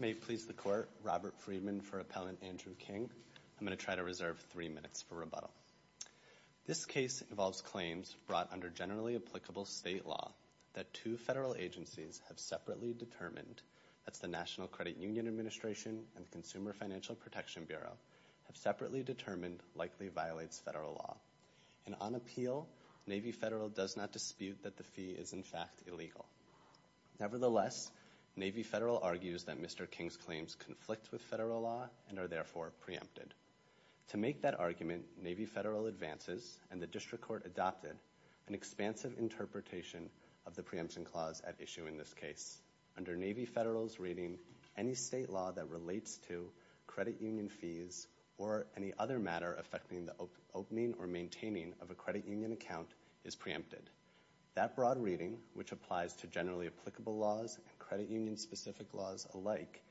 May it please the Court, Robert Friedman for Appellant Andrew King. I'm going to try to reserve three minutes for rebuttal. This case involves claims brought under generally applicable state law that two federal agencies have separately determined, that's the National Credit Union Administration and the Consumer Financial Protection Bureau, have separately determined likely violates federal law. And on appeal, Navy Federal does not dispute that the fee is in fact illegal. Nevertheless, Navy Federal argues that Mr. King's claims conflict with federal law and are therefore preempted. To make that argument, Navy Federal advances and the District Court adopted an expansive interpretation of the preemption clause at issue in this case. Under Navy Federal's reading, any state law that relates to credit union fees or any other matter affecting the opening or maintaining of a credit union account is preempted. That broad reading, which applies to generally applicable laws and credit union-specific laws alike,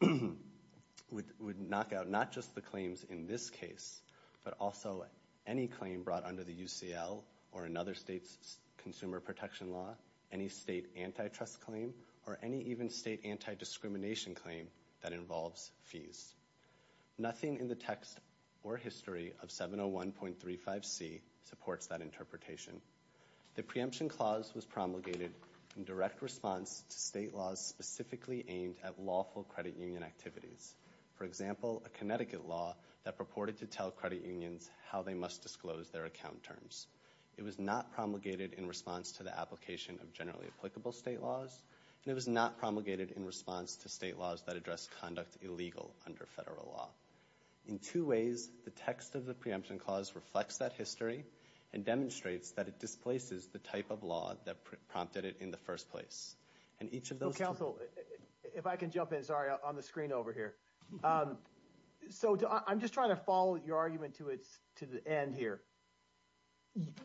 would knock out not just the claims in this case, but also any claim brought under the UCL or another state's consumer protection law, any state antitrust claim, or any even state anti-discrimination claim that involves fees. Nothing in the text or history of 701.35c supports that interpretation. The preemption clause was promulgated in direct response to state laws specifically aimed at lawful credit union activities. For example, a Connecticut law that purported to tell credit unions how they must disclose their account terms. It was not promulgated in response to the application of generally applicable state laws, and it was not promulgated in response to state laws that address conduct illegal under federal law. In two ways, the text of the preemption clause reflects that history and demonstrates that it displaces the type of law that prompted it in the first place. And each of those... Well, counsel, if I can jump in, sorry, on the screen over here. So I'm just trying to follow your argument to the end here.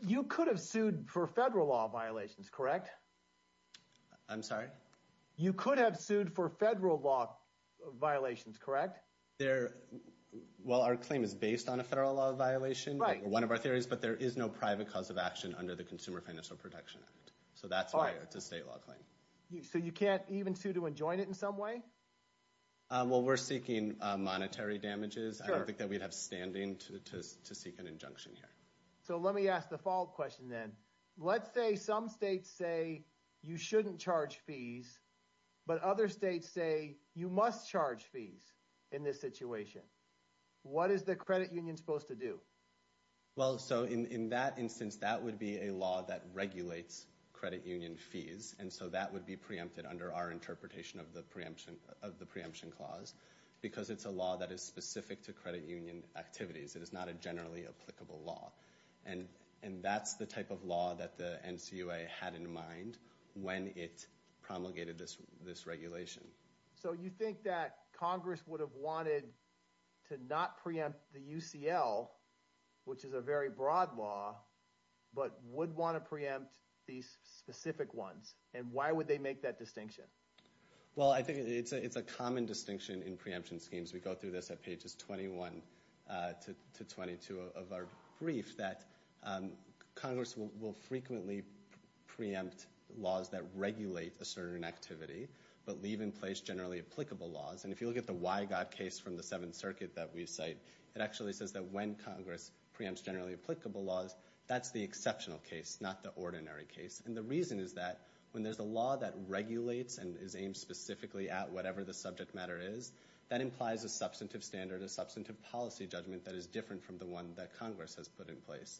You could have sued for federal law violations, correct? I'm sorry? You could have sued for federal law violations, correct? Well, our claim is based on a federal law violation, one of our theories, but there is no private cause of action under the Consumer Financial Protection Act. So that's why it's a state law claim. So you can't even sue to enjoin it in some way? Well, we're seeking monetary damages. I don't think that we'd have standing to seek an injunction here. So let me ask the follow-up question then. Let's say some states say you shouldn't charge fees, but other states say you must charge fees in this situation. What is the credit union supposed to do? Well, so in that instance, that would be a law that regulates credit union fees. And so that would be preempted under our interpretation of the preemption clause, because it's a law that is specific to credit union activities. It is not a generally applicable law. And that's the type of law that the NCUA had in mind when it promulgated this regulation. So you think that Congress would have wanted to not preempt the UCL, which is a very broad law, but would want to preempt these specific ones? And why would they make that distinction? Well, I think it's a common distinction in preemption schemes. We go through this at Congress will frequently preempt laws that regulate a certain activity, but leave in place generally applicable laws. And if you look at the Wygod case from the Seventh Circuit that we cite, it actually says that when Congress preempts generally applicable laws, that's the exceptional case, not the ordinary case. And the reason is that when there's a law that regulates and is aimed specifically at whatever the subject matter is, that implies a substantive standard, a substantive policy judgment that is different from the one that Congress has put in place.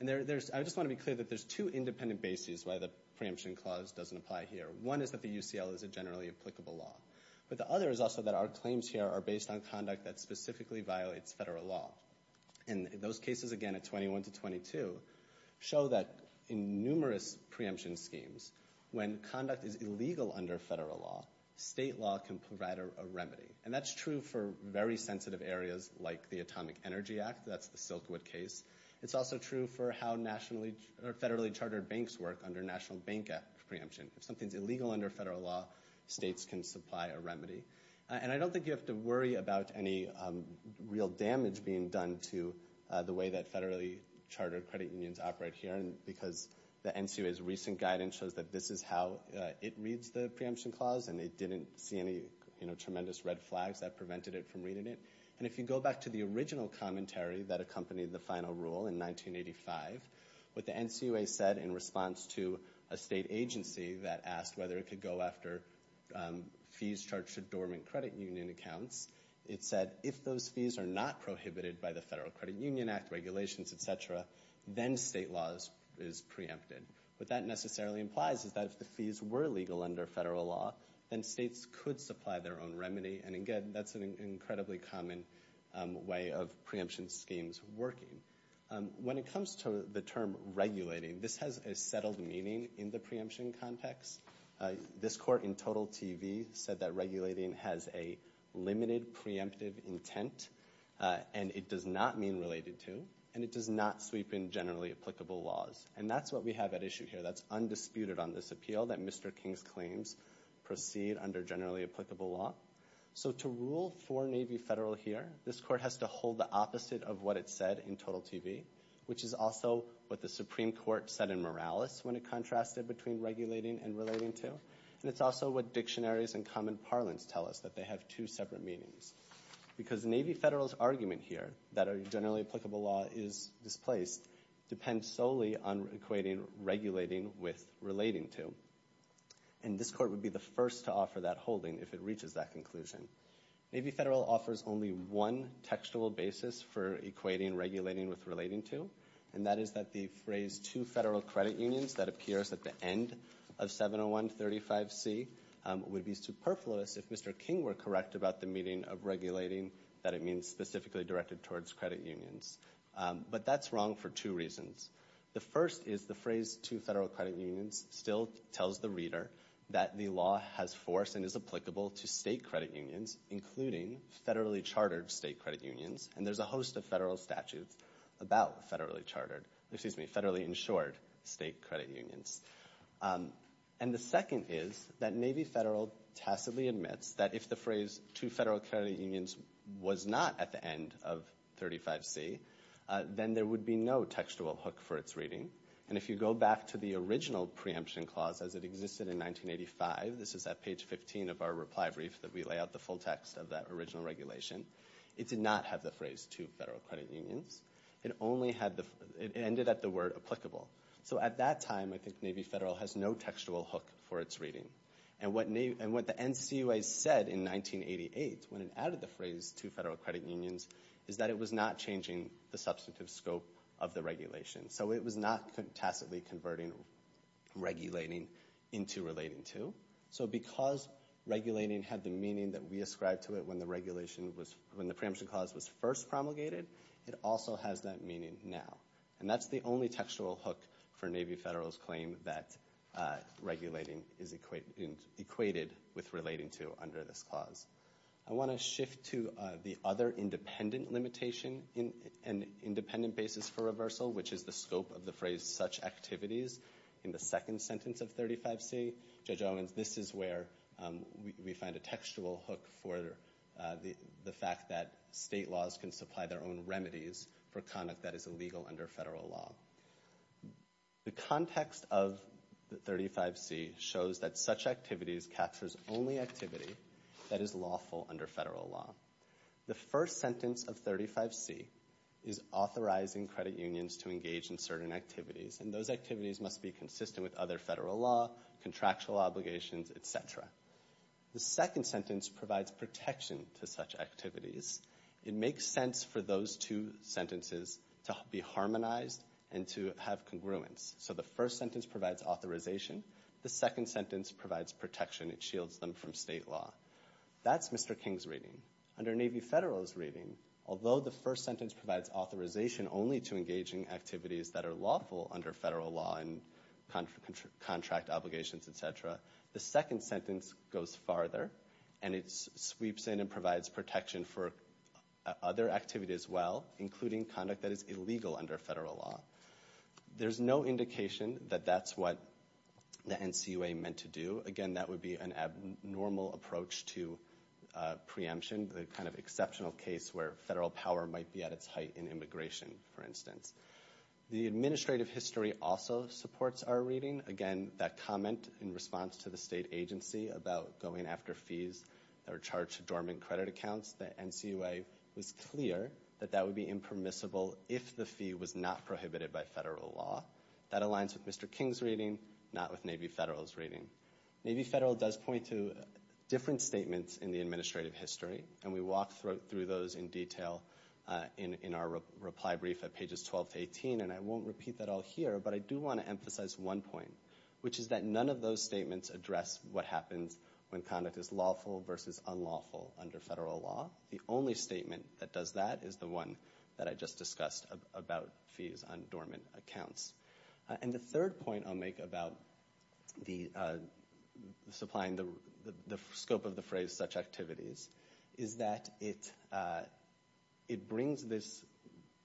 And I just want to be clear that there's two independent bases why the preemption clause doesn't apply here. One is that the UCL is a generally applicable law. But the other is also that our claims here are based on conduct that specifically violates federal law. And those cases, again, at 21 to 22, show that in numerous preemption schemes, when conduct is illegal under federal law, state law can provide a remedy. And that's true for very sensitive areas like the Atomic Energy Act. That's the Silkwood case. It's also true for how federally chartered banks work under national bank preemption. If something's illegal under federal law, states can supply a remedy. And I don't think you have to worry about any real damage being done to the way that federally chartered credit unions operate here, because the NCUA's recent guidance shows that this is how it reads the preemption clause. And they didn't see any tremendous red flags that prevented it from reading it. And if you go back to the original commentary that accompanied the final rule in 1985, what the NCUA said in response to a state agency that asked whether it could go after fees charged to dormant credit union accounts, it said, if those fees are not prohibited by the Federal Credit Union Act regulations, et cetera, then state law is preempted. What that necessarily implies is that if the fees were legal under federal law, then states could supply their own remedy. And again, that's an incredibly common way of preemption schemes working. When it comes to the term regulating, this has a settled meaning in the preemption context. This court in Total TV said that regulating has a limited preemptive intent, and it does not mean related to, and it does not sweep in generally applicable laws. And that's what we have at issue here. That's undisputed on this appeal, that Mr. King's claims proceed under generally applicable law. So to rule for Navy Federal here, this court has to hold the opposite of what it said in Total TV, which is also what the Supreme Court said in Morales when it contrasted between regulating and relating to. And it's also what dictionaries and common parlance tell us, that they have two separate meanings. Because Navy Federal's argument here, that a generally applicable law is displaced, depends solely on equating regulating with relating to. And this court would be the first to offer that holding if it reaches that conclusion. Navy Federal offers only one textual basis for equating regulating with relating to, and that is that the phrase, two federal credit unions, that appears at the end of 701 35C, would be superfluous if Mr. King were correct about the meaning of regulating, that it means specifically directed towards credit unions. But that's wrong for two reasons. The first is the phrase, two federal credit unions, still tells the reader that the law has force and is applicable to state credit unions, including federally chartered state credit unions. And there's a host of federal statutes about federally chartered, excuse me, federally insured state credit unions. And the second is that Navy Federal tacitly admits that if the phrase, two federal credit unions, was not at the end of 35C, then there would be no textual hook for its reading. And if you go back to the original preemption clause as it existed in 1985, this is at page 15 of our reply brief that we lay out the full text of that original regulation, it did not have the phrase, two federal credit unions. It only had the, it ended at the word applicable. So at that time, I think Navy Federal has no textual hook for its reading. And what the NCUA said in 1988 when it added the phrase, two federal credit unions, is that it was not changing the substantive scope of the regulation. So it was not tacitly converting regulating into relating to. So because regulating had the meaning that we ascribed to it when the regulation was, when the preemption clause was first promulgated, it also has that meaning now. And that's the only textual hook for Navy Federal's claim that regulating is equated with relating to under this clause. I want to shift to the other independent limitation in an independent basis for reversal, which is the scope of the phrase such activities in the second sentence of 35C. Judge Owens, this is where we find a textual hook for the fact that state laws can supply their own remedies for conduct that is illegal under federal law. The context of the 35C shows that such activities captures only activity that is lawful under federal law. The first sentence of 35C is authorizing credit unions to engage in certain activities. And those activities must be consistent with other federal law, contractual obligations, et cetera. The second sentence provides protection to such activities and to have congruence. So the first sentence provides authorization. The second sentence provides protection. It shields them from state law. That's Mr. King's reading. Under Navy Federal's reading, although the first sentence provides authorization only to engage in activities that are lawful under federal law and contract obligations, et cetera, the second sentence goes farther and it sweeps in and provides protection for other activities as well, including conduct that is illegal under federal law. There's no indication that that's what the NCUA meant to do. Again, that would be an abnormal approach to preemption, the kind of exceptional case where federal power might be at its height in immigration, for instance. The administrative history also supports our reading. Again, that comment in response to the state agency about going after fees that are charged to dormant credit accounts, the NCUA was clear that that would be impermissible if the fee was not prohibited by federal law. That aligns with Mr. King's reading, not with Navy Federal's reading. Navy Federal does point to different statements in the administrative history, and we walk through those in detail in our reply brief at pages 12 to 18. And I won't repeat that all here, but I do want to emphasize one point, which is that none of those statements address what happens when conduct is lawful versus unlawful under federal law. The only statement that does that is the one that I just discussed about fees on dormant accounts. And the third point I'll make about the scope of the phrase such activities is that it brings this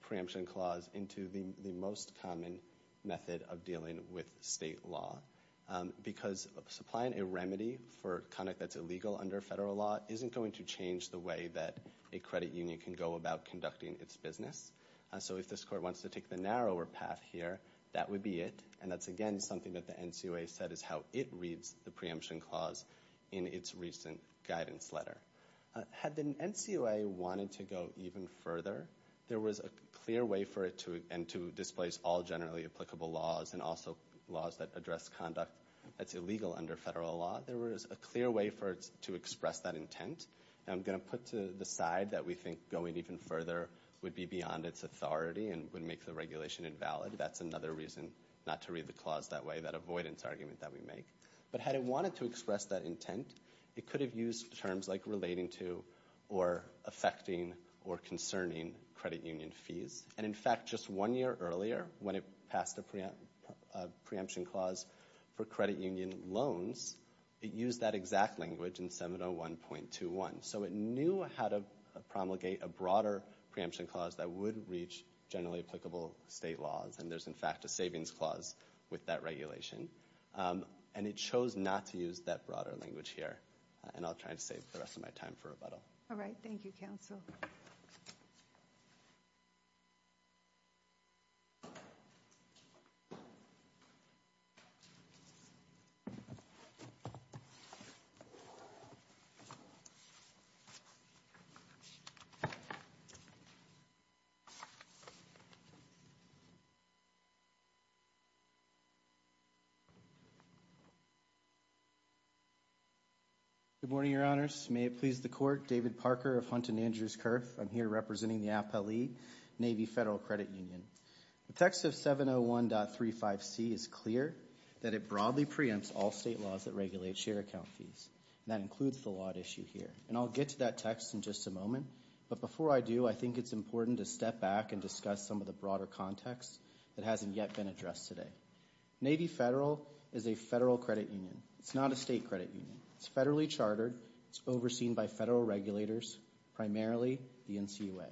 preemption clause into the most common method of dealing with state law. Because supplying a remedy for conduct that's illegal under federal law isn't going to change the way that a credit union can go about conducting its business. So if this court wants to take the narrower path here, that would be it. And that's, again, something that the NCUA said is how it reads the preemption clause in its recent guidance letter. Had the NCUA wanted to go even further, there was a clear way for it to, and to displace all generally applicable laws and also laws that address conduct that's illegal under federal law. There was a clear way for it to express that intent. And I'm going to put to the side that we think going even further would be beyond its authority and would make the regulation invalid. That's another reason not to read the clause that way, that avoidance argument that we make. But had it wanted to express that intent, it could have used terms like relating to or affecting or concerning credit union fees. And, in fact, just one year earlier when it passed a preemption clause for credit union loans, it used that exact language in 701.21. So it knew how to promulgate a broader preemption clause that would reach generally applicable state laws. And there's, in fact, a savings clause with that regulation. And it chose not to use that broader language here. And I'll try to save the rest of my time for rebuttal. Good morning, Your Honors. May it please the Court, David Parker of Hunt and Andrews Kerf. I'm here representing the APA League, Navy Federal Credit Union. The text of 701.35c is clear that it broadly preempts all state laws that regulate share account fees. And that includes the lot issue here. And I'll get to that text in just a moment. But before I do, I think it's important to step back and discuss some of the broader context that hasn't yet been addressed today. Navy Federal is a federal credit union. It's not a state credit union. It's federally chartered. It's overseen by federal regulators, primarily the NCUA.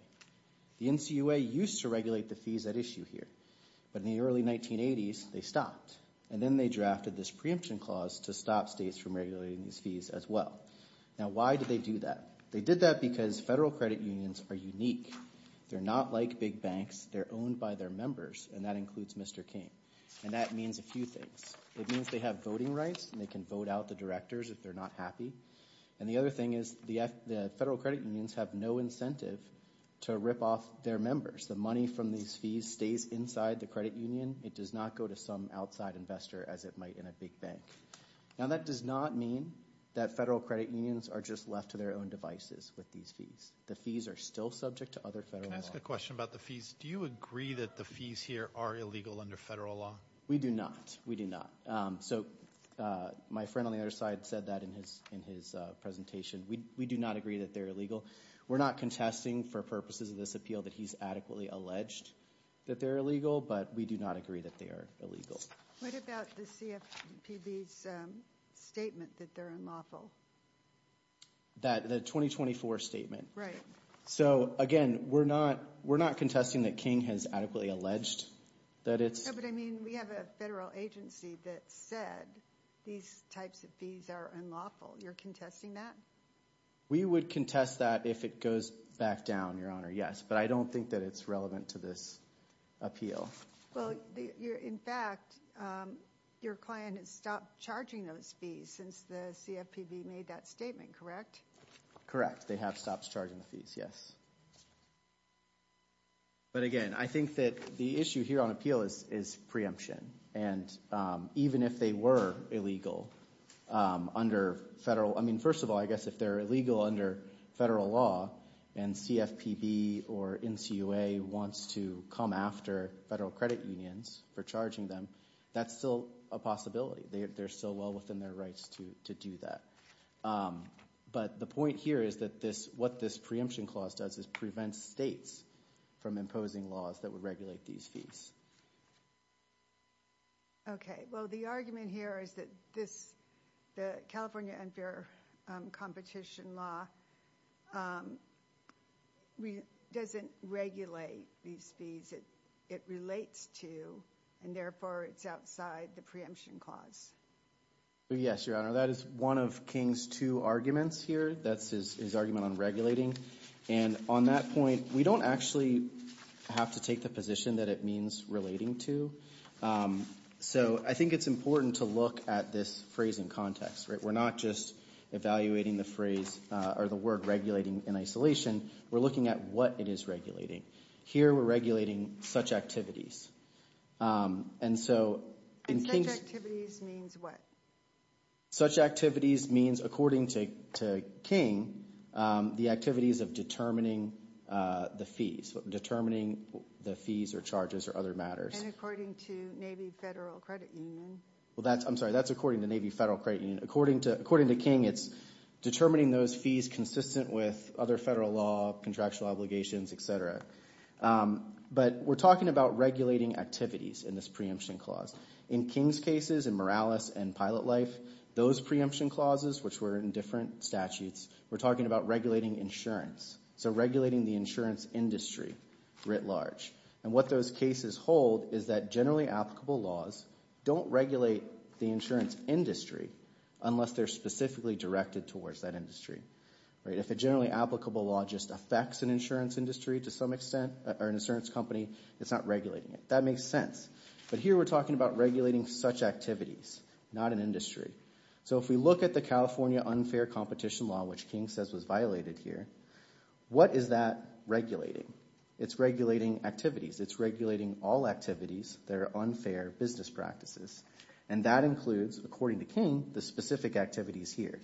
The NCUA used to regulate the fees at issue here. But in the early 1980s, they stopped. And then they drafted this preemption clause to stop states from regulating these fees as well. Now, why did they do that? They did that because federal credit unions are unique. They're not like big banks. They're owned by their members. And that includes Mr. King. And that means a few things. It means they have voting rights and they can vote out the directors if they're not happy. And the other thing is the federal credit unions have no incentive to rip off their members. The money from these fees stays inside the credit union. It does not go to some outside investor as it might in a big bank. Now, that does not mean that federal credit unions are just left to their own devices with these fees. The fees are still subject to other federal law. Can I ask a question about the fees? Do you agree that the fees here are illegal under federal law? We do not. We do not. So my friend on the other side said that in his presentation. We do not agree that they're illegal. We're not contesting for purposes of this appeal that he's adequately alleged that they're illegal, but we do not agree that they are What about the CFPB's statement that they're unlawful? The 2024 statement. So again, we're not contesting that King has adequately alleged that it's No, but I mean, we have a federal agency that said these types of fees are unlawful. You're contesting that? We would contest that if it goes back down, Your Honor, yes. But I don't think that it's relevant to this appeal. Well, in fact, your client has stopped charging those fees since the CFPB made that statement, correct? Correct. They have stopped charging the fees. Yes. But again, I think that the issue here on appeal is preemption. And even if they were illegal under federal, I mean, first of all, I guess if they're illegal under federal law and CFPB or NCUA wants to come after federal credit unions for charging them, that's still a possibility. They're still well within their rights to do that. But the point here is that what this preemption clause does is prevent states from imposing laws that would regulate these fees. Okay. Well, the argument here is that the California unfair competition law doesn't regulate these fees. It relates to, and therefore, it's outside the preemption clause. Yes, Your Honor. That is one of King's two arguments here. That's his argument on regulating. And on that point, we don't actually have to take the position that it means relating to. So I think it's important to look at this phrase in context, right? We're not just evaluating the phrase or the word regulating in isolation. We're looking at what it is regulating. Here, we're regulating such activities. And so in King's... And such activities means what? Such activities means, according to King, the activities of determining the fees, determining the fees or charges or other matters. And according to Navy Federal Credit Union? Well, that's, I'm sorry, that's according to Navy Federal Credit Union. According to King, it's determining those fees consistent with other federal law, contractual obligations, et cetera. But we're talking about regulating activities in this preemption clause. In King's cases, in Morales and Pilot Life, those preemption clauses, which were in different statutes, we're talking about regulating insurance. So regulating the insurance industry writ large. And what those cases hold is that generally applicable laws don't regulate the insurance industry unless they're specifically directed towards that industry, right? If a generally applicable law just affects an insurance industry to some extent or an insurance company, it's not regulating it. That makes sense. But here, we're talking about regulating such activities, not an industry. So if we look at the California unfair competition law, which King says was violated here, what is that regulating? It's regulating all activities that are unfair business practices. And that includes, according to King, the specific activities here.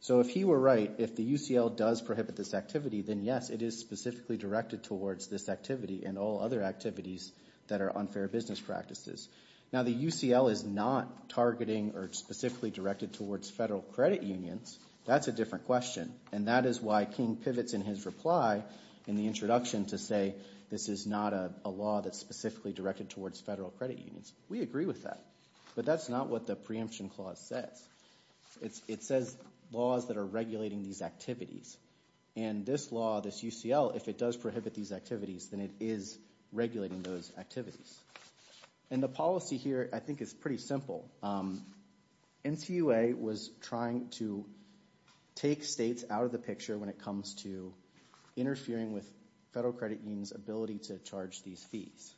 So if he were right, if the UCL does prohibit this activity, then yes, it is specifically directed towards this activity and all other activities that are unfair business practices. Now, the UCL is not targeting or specifically directed towards federal credit unions. That's a different question. And that is why King specifically directed towards federal credit unions. We agree with that. But that's not what the preemption clause says. It says laws that are regulating these activities. And this law, this UCL, if it does prohibit these activities, then it is regulating those activities. And the policy here, I think, is pretty simple. NCUA was trying to take states out of the picture when it comes to interfering with federal credit unions' ability to charge these fees.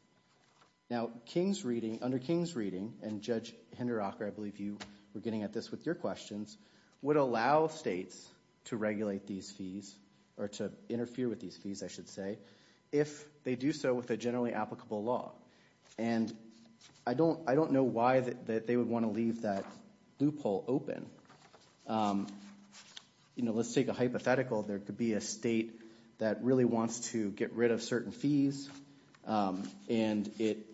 Now, under King's reading, and Judge Hinderacher, I believe you were getting at this with your questions, would allow states to regulate these fees or to interfere with these fees, I should say, if they do so with a generally applicable law. And I don't know why they would want to leave that loophole open. Let's take a hypothetical. There could be a state that really wants to get rid of certain fees. And it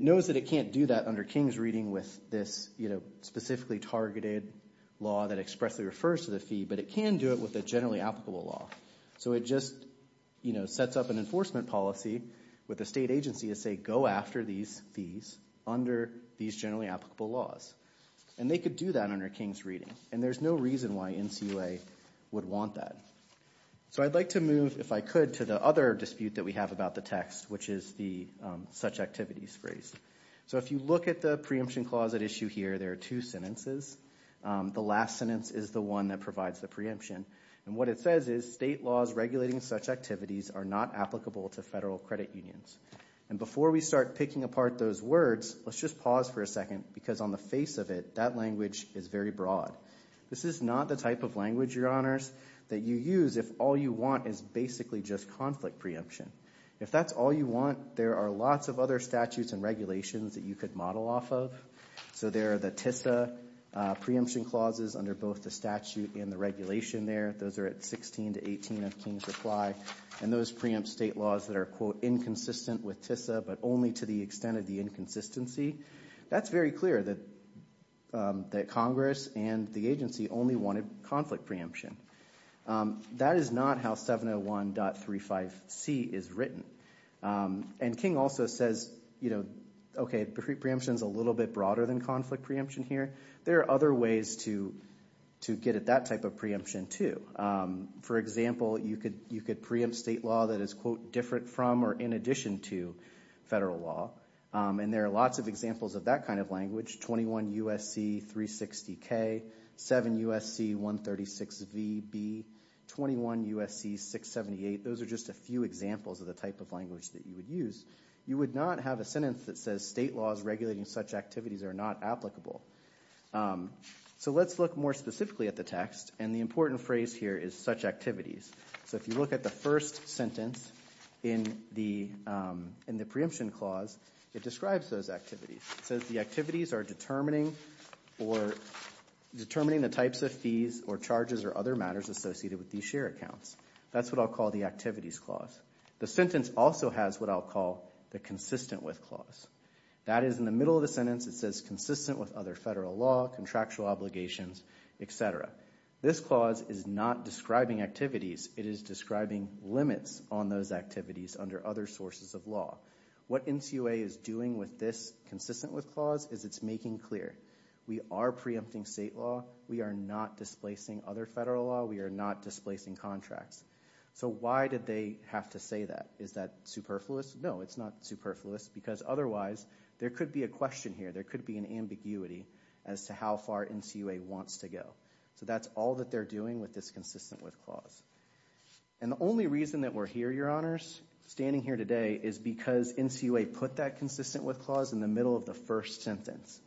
knows that it can't do that under King's reading with this, you know, specifically targeted law that expressly refers to the fee. But it can do it with a generally applicable law. So it just, you know, sets up an enforcement policy with the state agency to say, go after these fees under these generally applicable laws. And they could do that under King's reading. And there's no reason why NCUA would want that. So I'd like to move, if I could, to the other dispute that we have about the text, which is the such activities phrase. So if you look at the preemption clause at issue here, there are two sentences. The last sentence is the one that provides the preemption. And what it says is, state laws regulating such activities are not applicable to federal credit unions. And before we start picking apart those words, let's just pause for a second. Because on the face of it, that language is very broad. This is not the type of language, your honors, that you use if all you want is basically just conflict preemption. If that's all you want, there are lots of other statutes and regulations that you could model off of. So there are the TISA preemption clauses under both the statute and the regulation there. Those are at 16 to 18 of King's reply. And those preempt state laws that are, quote, inconsistent with TISA, but only to the extent of the inconsistency, that's very clear that Congress and the agency only wanted conflict preemption. That is not how 701.35C is written. And King also says, you know, okay, preemption is a little bit broader than conflict preemption here. There are other ways to get at that type of preemption too. For example, you could preempt state law that is, quote, different from or in addition to federal law. And there are lots of examples of that kind of language, 21 U.S.C. 360K, 7 U.S.C. 136VB, 21 U.S.C. 678. Those are just a few examples of the type of language that you would use. You would not have a sentence that says state laws regulating such activities are not applicable. So let's look more specifically at the text. And the important phrase here is such activities. So if you look at the first sentence in the preemption clause, it describes those activities. It says the activities are determining or determining the types of fees or charges or other matters associated with these share accounts. That's what I'll call the activities clause. The sentence also has what I'll call the consistent with clause. That is in the middle of the sentence, it says consistent with other federal law, contractual obligations, et cetera. This clause is not describing activities. It is describing limits on those activities under other sources of law. What NCUA is doing with this consistent with clause is it's making clear. We are preempting state law. We are not displacing other federal law. We are not displacing contracts. So why did they have to say that? Is that superfluous? No, it's not superfluous because otherwise there could be a question here. There could be an ambiguity as to how far NCUA wants to go. So that's all that they're doing with this consistent with clause. And the only reason that we're here, your honors, standing here today, is because NCUA put that consistent with clause in the middle of the first sentence.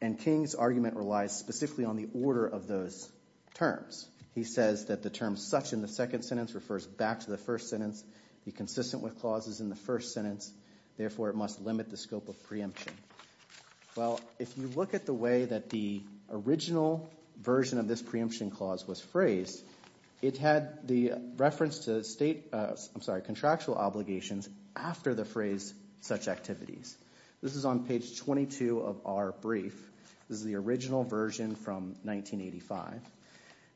And King's argument relies specifically on the order of those terms. He says that the term such in the second sentence refers back to the first sentence. The consistent with clause is in the first sentence. Therefore, it must limit the scope of preemption. Well, if you look at the way that the original version of this preemption clause was phrased, it had the reference to state, I'm sorry, contractual obligations after the phrase such activities. This is on page 22 of our brief. This is the original version from 1985.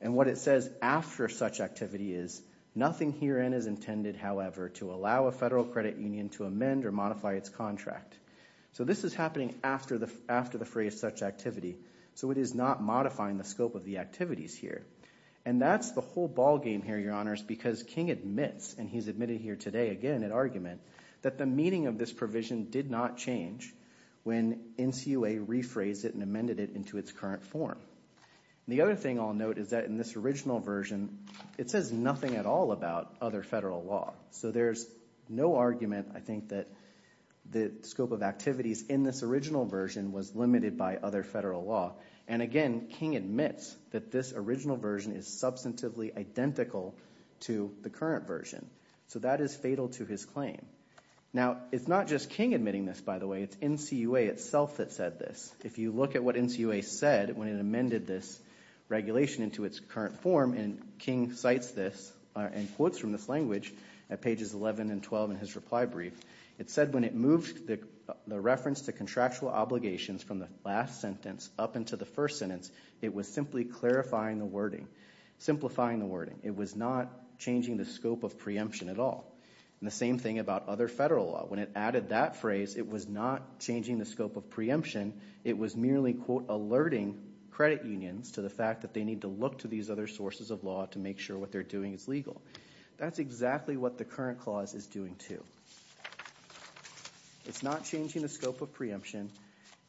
And what it says after such activity is nothing herein is intended, however, to allow a federal credit union to amend or modify its contract. So this is happening after the phrase such activity. So it is not modifying the scope of the activities here. And that's the whole ballgame here, your honors, because King admits, and he's admitted here today again in argument, that the meaning of this provision did not change when NCUA rephrased it and amended it into its current form. The other thing I'll note is that in this original version, it says nothing at all about other federal law. So there's no argument, I think, that the scope of activities in this original version was limited by other federal law. And again, King admits that this original version is substantively identical to the current version. So that is fatal to his claim. Now, it's not just King admitting this, by the way. It's NCUA itself that said this. If you look at what NCUA said when it amended this regulation into its current form, and King cites this and quotes from this language at pages 11 and 12 in his reply brief, it said when it moved the reference to contractual obligations from the last sentence up into the first sentence, it was simply clarifying the wording, simplifying the wording. It was not changing the scope of preemption at all. And the same thing about other federal law. When it added that phrase, it was not changing the scope of preemption. It was merely, quote, alerting credit unions to the fact that they need to look to these other sources of law to make sure what they're doing is legal. That's exactly what the current clause is doing, too. It's not changing the scope of preemption.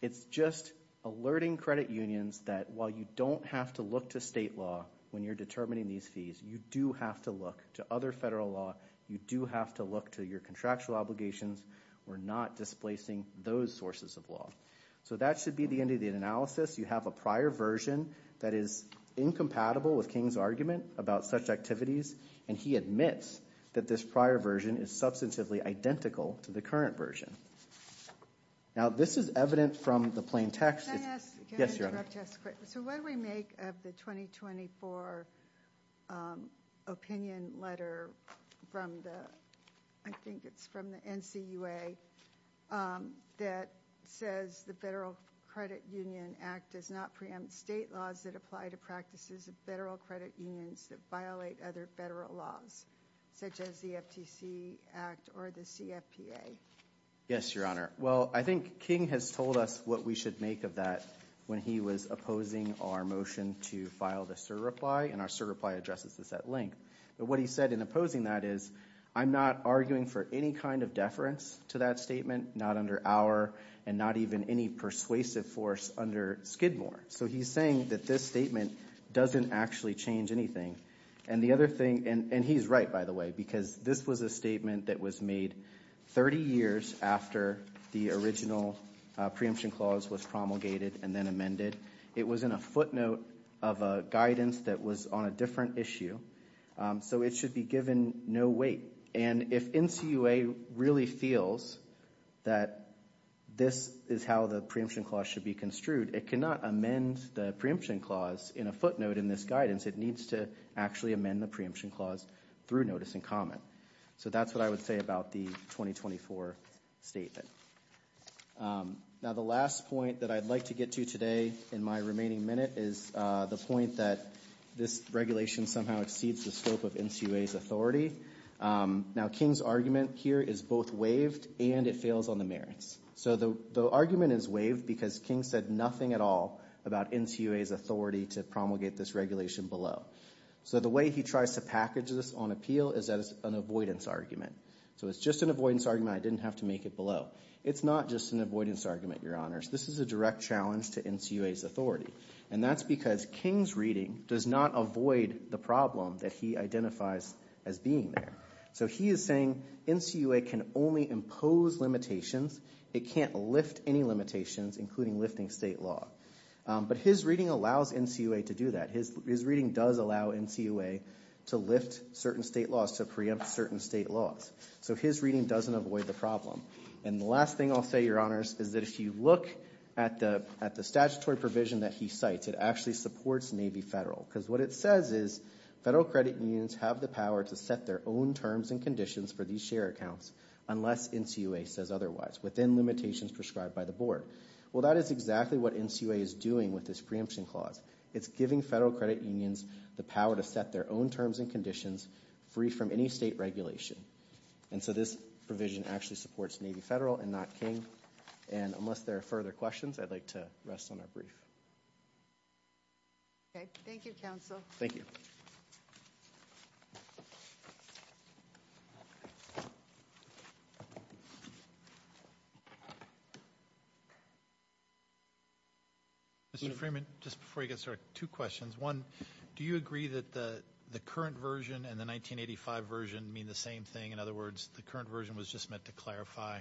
It's just alerting credit unions that while you don't have to look to state law when you're determining these fees, you do have to look to other federal law. You do have to look to your contractual obligations. We're not displacing those sources of law. So that should be the end of the analysis. You have a prior version that is incompatible with King's argument about such activities, and he admits that this prior version is substantively identical to the current version. Now, this is evident from the plain text. Can I ask, can I interrupt just quick? So what do we make of the 2024 opinion letter from the, I think it's from the NCUA, that says the Federal Credit Union Act does not preempt state laws that apply to practices of federal credit unions that violate other federal laws, such as the FTC Act or the CFPA? Yes, Your Honor. Well, I think King has told us what we should make of that when he was opposing our motion to file the surreply, and our surreply addresses this at length. But what he said in opposing that is, I'm not arguing for any kind of deference to that statement, not under our and not even any persuasive force under Skidmore. So he's saying that this statement doesn't actually change anything. And the other thing, and he's right, by the way, because this was a statement that was made 30 years after the original preemption clause was promulgated and then amended. It was in a footnote of a guidance that was on a different issue. So it should be given no weight. And if NCUA really feels that this is how the preemption clause should be construed, it cannot amend the preemption clause in a footnote in this guidance. It needs to actually amend the preemption clause through notice and comment. So that's what I would say about the 2024 statement. Now, the last point that I'd like to get to today in my remaining minute is the point that this regulation somehow exceeds the scope of NCUA's authority. Now, King's argument here is both waived and it fails on the merits. So the argument is waived because King said nothing at all about NCUA's authority to promulgate this regulation below. So the way he tries to package this on appeal is that it's an avoidance argument. So it's just an avoidance argument. I didn't have to make it below. It's not just an avoidance argument, Your Honors. This is a direct challenge to NCUA's authority. And that's because King's reading does not avoid the problem that he identifies as being there. So he is saying NCUA can only impose limitations. It can't lift any limitations, including lifting state law. But his reading allows NCUA to do that. His reading does allow NCUA to lift certain state laws, to preempt certain state laws. So his reading doesn't avoid the problem. And the last thing I'll say, Your Honors, is that if you look at the statutory provision that he cites, it actually supports Navy Federal. Because what it says is federal credit unions have the power to set their own terms and conditions for these share accounts unless NCUA says otherwise within limitations prescribed by the board. Well, that is exactly what NCUA is doing with this preemption clause. It's giving federal credit unions the power to set their own terms and conditions free from any state regulation. And so this provision actually supports Navy Federal and not King. And unless there are further questions, I'd like to rest on our brief. Okay. Thank you, Counsel. Thank you. Mr. Freeman, just before you get started, two questions. One, do you agree that the current version and the 1985 version mean the same thing? In other words, the current version was just meant to clarify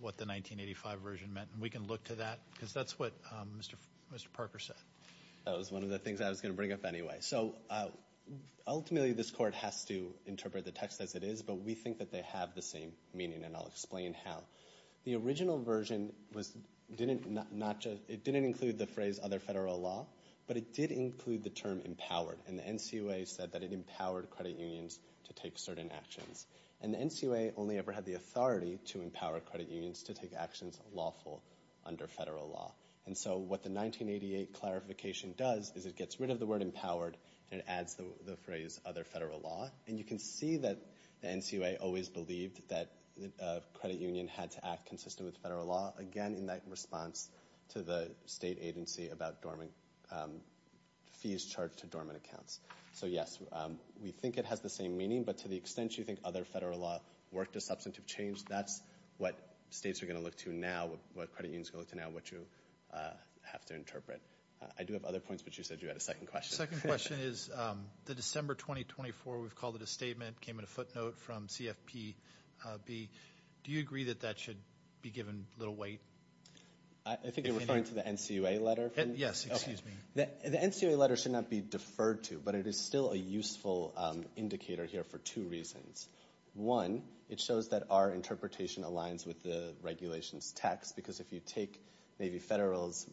what the 1985 version meant. And we can look to that because that's what Mr. Parker said. That was one of the things I was going to bring up anyway. Ultimately, this court has to interpret the text as it is, but we think that they have the same meaning, and I'll explain how. The original version didn't include the phrase other federal law, but it did include the term empowered. And the NCUA said that it empowered credit unions to take certain actions. And the NCUA only ever had the authority to empower credit unions to take actions lawful under federal law. And so what the 1988 clarification does is it gets rid of the word empowered, and it adds the phrase other federal law. And you can see that the NCUA always believed that a credit union had to act consistent with federal law, again, in that response to the state agency about fees charged to dormant accounts. So, yes, we think it has the same meaning, but to the extent you think other federal law worked as substantive change, that's what states are going to look to now, what credit unions are going to look to now, what you have to interpret. I do have other points, but you said you had a second question. The second question is the December 2024, we've called it a statement, came in a footnote from CFPB. Do you agree that that should be given a little weight? I think you're referring to the NCUA letter? Yes, excuse me. The NCUA letter should not be deferred to, but it is still a useful indicator here for two reasons. One, it shows that our interpretation aligns with the regulation's text, because if you take maybe federal's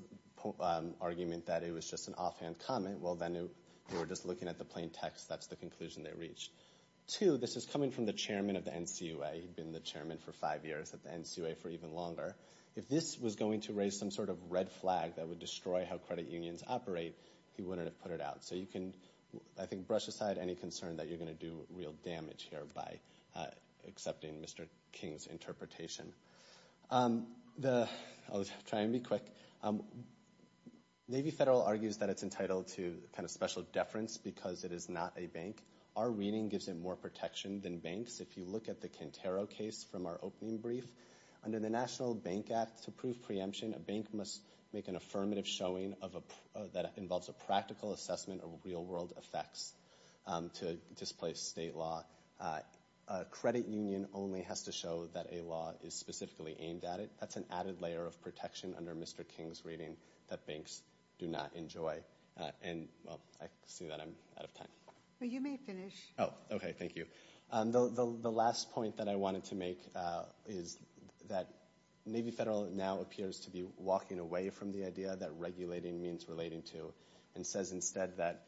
argument that it was just an offhand comment, well, then we were just looking at the plain text. That's the conclusion they reached. Two, this is coming from the chairman of the NCUA. He'd been the chairman for five years at the NCUA for even longer. If this was going to raise some sort of red flag that would destroy how credit unions operate, he wouldn't have put it out. So you can, I think, brush aside any concern that you're going to do real damage here by accepting Mr. King's interpretation. I'll try and be quick. Navy Federal argues that it's entitled to kind of special deference because it is not a bank. Our reading gives it more protection than banks. If you look at the Quintero case from our opening brief, under the National Bank Act, to prove preemption, a bank must make an affirmative showing that involves a practical assessment of real-world effects to displace state law. A credit union only has to show that a law is specifically aimed at it. That's an added layer of protection under Mr. King's reading that banks do not enjoy. And, well, I see that I'm out of time. Well, you may finish. Oh, okay. Thank you. The last point that I wanted to make is that Navy Federal now appears to be walking away from the idea that regulating means relating to and says instead that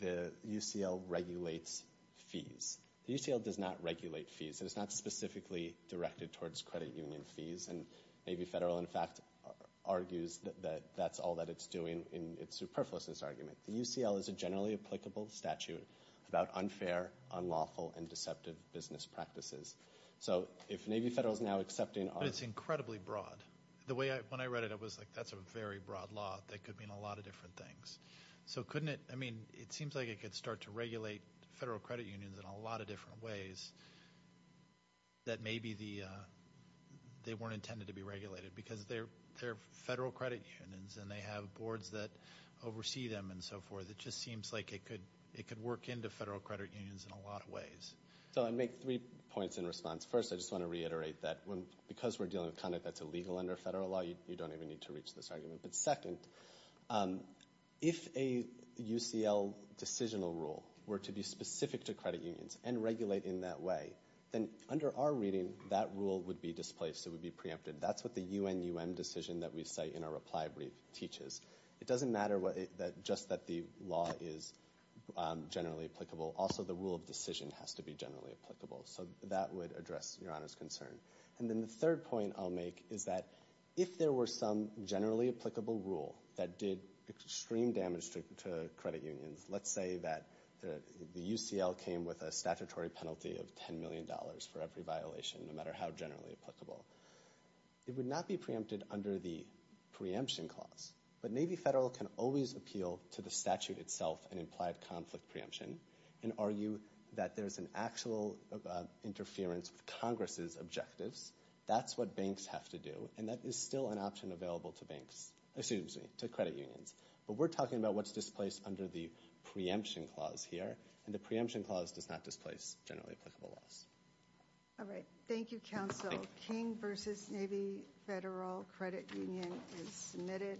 the UCL regulates fees. The UCL does not regulate fees. It is not specifically directed towards credit union fees. And Navy Federal, in fact, argues that that's all that it's doing in its superfluousness argument. The UCL is a generally applicable statute about unfair, unlawful, and deceptive business practices. So if Navy Federal is now accepting our – But it's incredibly broad. The way when I read it, I was like, that's a very broad law. That could mean a lot of different things. So couldn't it – I mean, it seems like it could start to regulate federal credit unions in a lot of different ways that maybe they weren't intended to be regulated because they're federal credit unions and they have boards that oversee them and so forth. It just seems like it could work into federal credit unions in a lot of ways. So I'd make three points in response. First, I just want to reiterate that because we're dealing with conduct that's illegal under federal law, you don't even need to reach this argument. But second, if a UCL decisional rule were to be specific to credit unions and regulate in that way, then under our reading, that rule would be displaced. It would be preempted. That's what the UNUM decision that we cite in our reply brief teaches. It doesn't matter just that the law is generally applicable. Also, the rule of decision has to be generally applicable. So that would address Your Honor's concern. And then the third point I'll make is that if there were some generally applicable rule that did extreme damage to credit unions, let's say that the UCL came with a statutory penalty of $10 million for every violation, no matter how generally applicable, it would not be preempted under the preemption clause. But Navy Federal can always appeal to the statute itself and implied conflict preemption and argue that there's an actual interference with Congress's objectives. That's what banks have to do, and that is still an option available to banks, excuse me, to credit unions. But we're talking about what's displaced under the preemption clause here, and the preemption clause does not displace generally applicable laws. All right. Thank you, counsel. King v. Navy Federal Credit Union is submitted.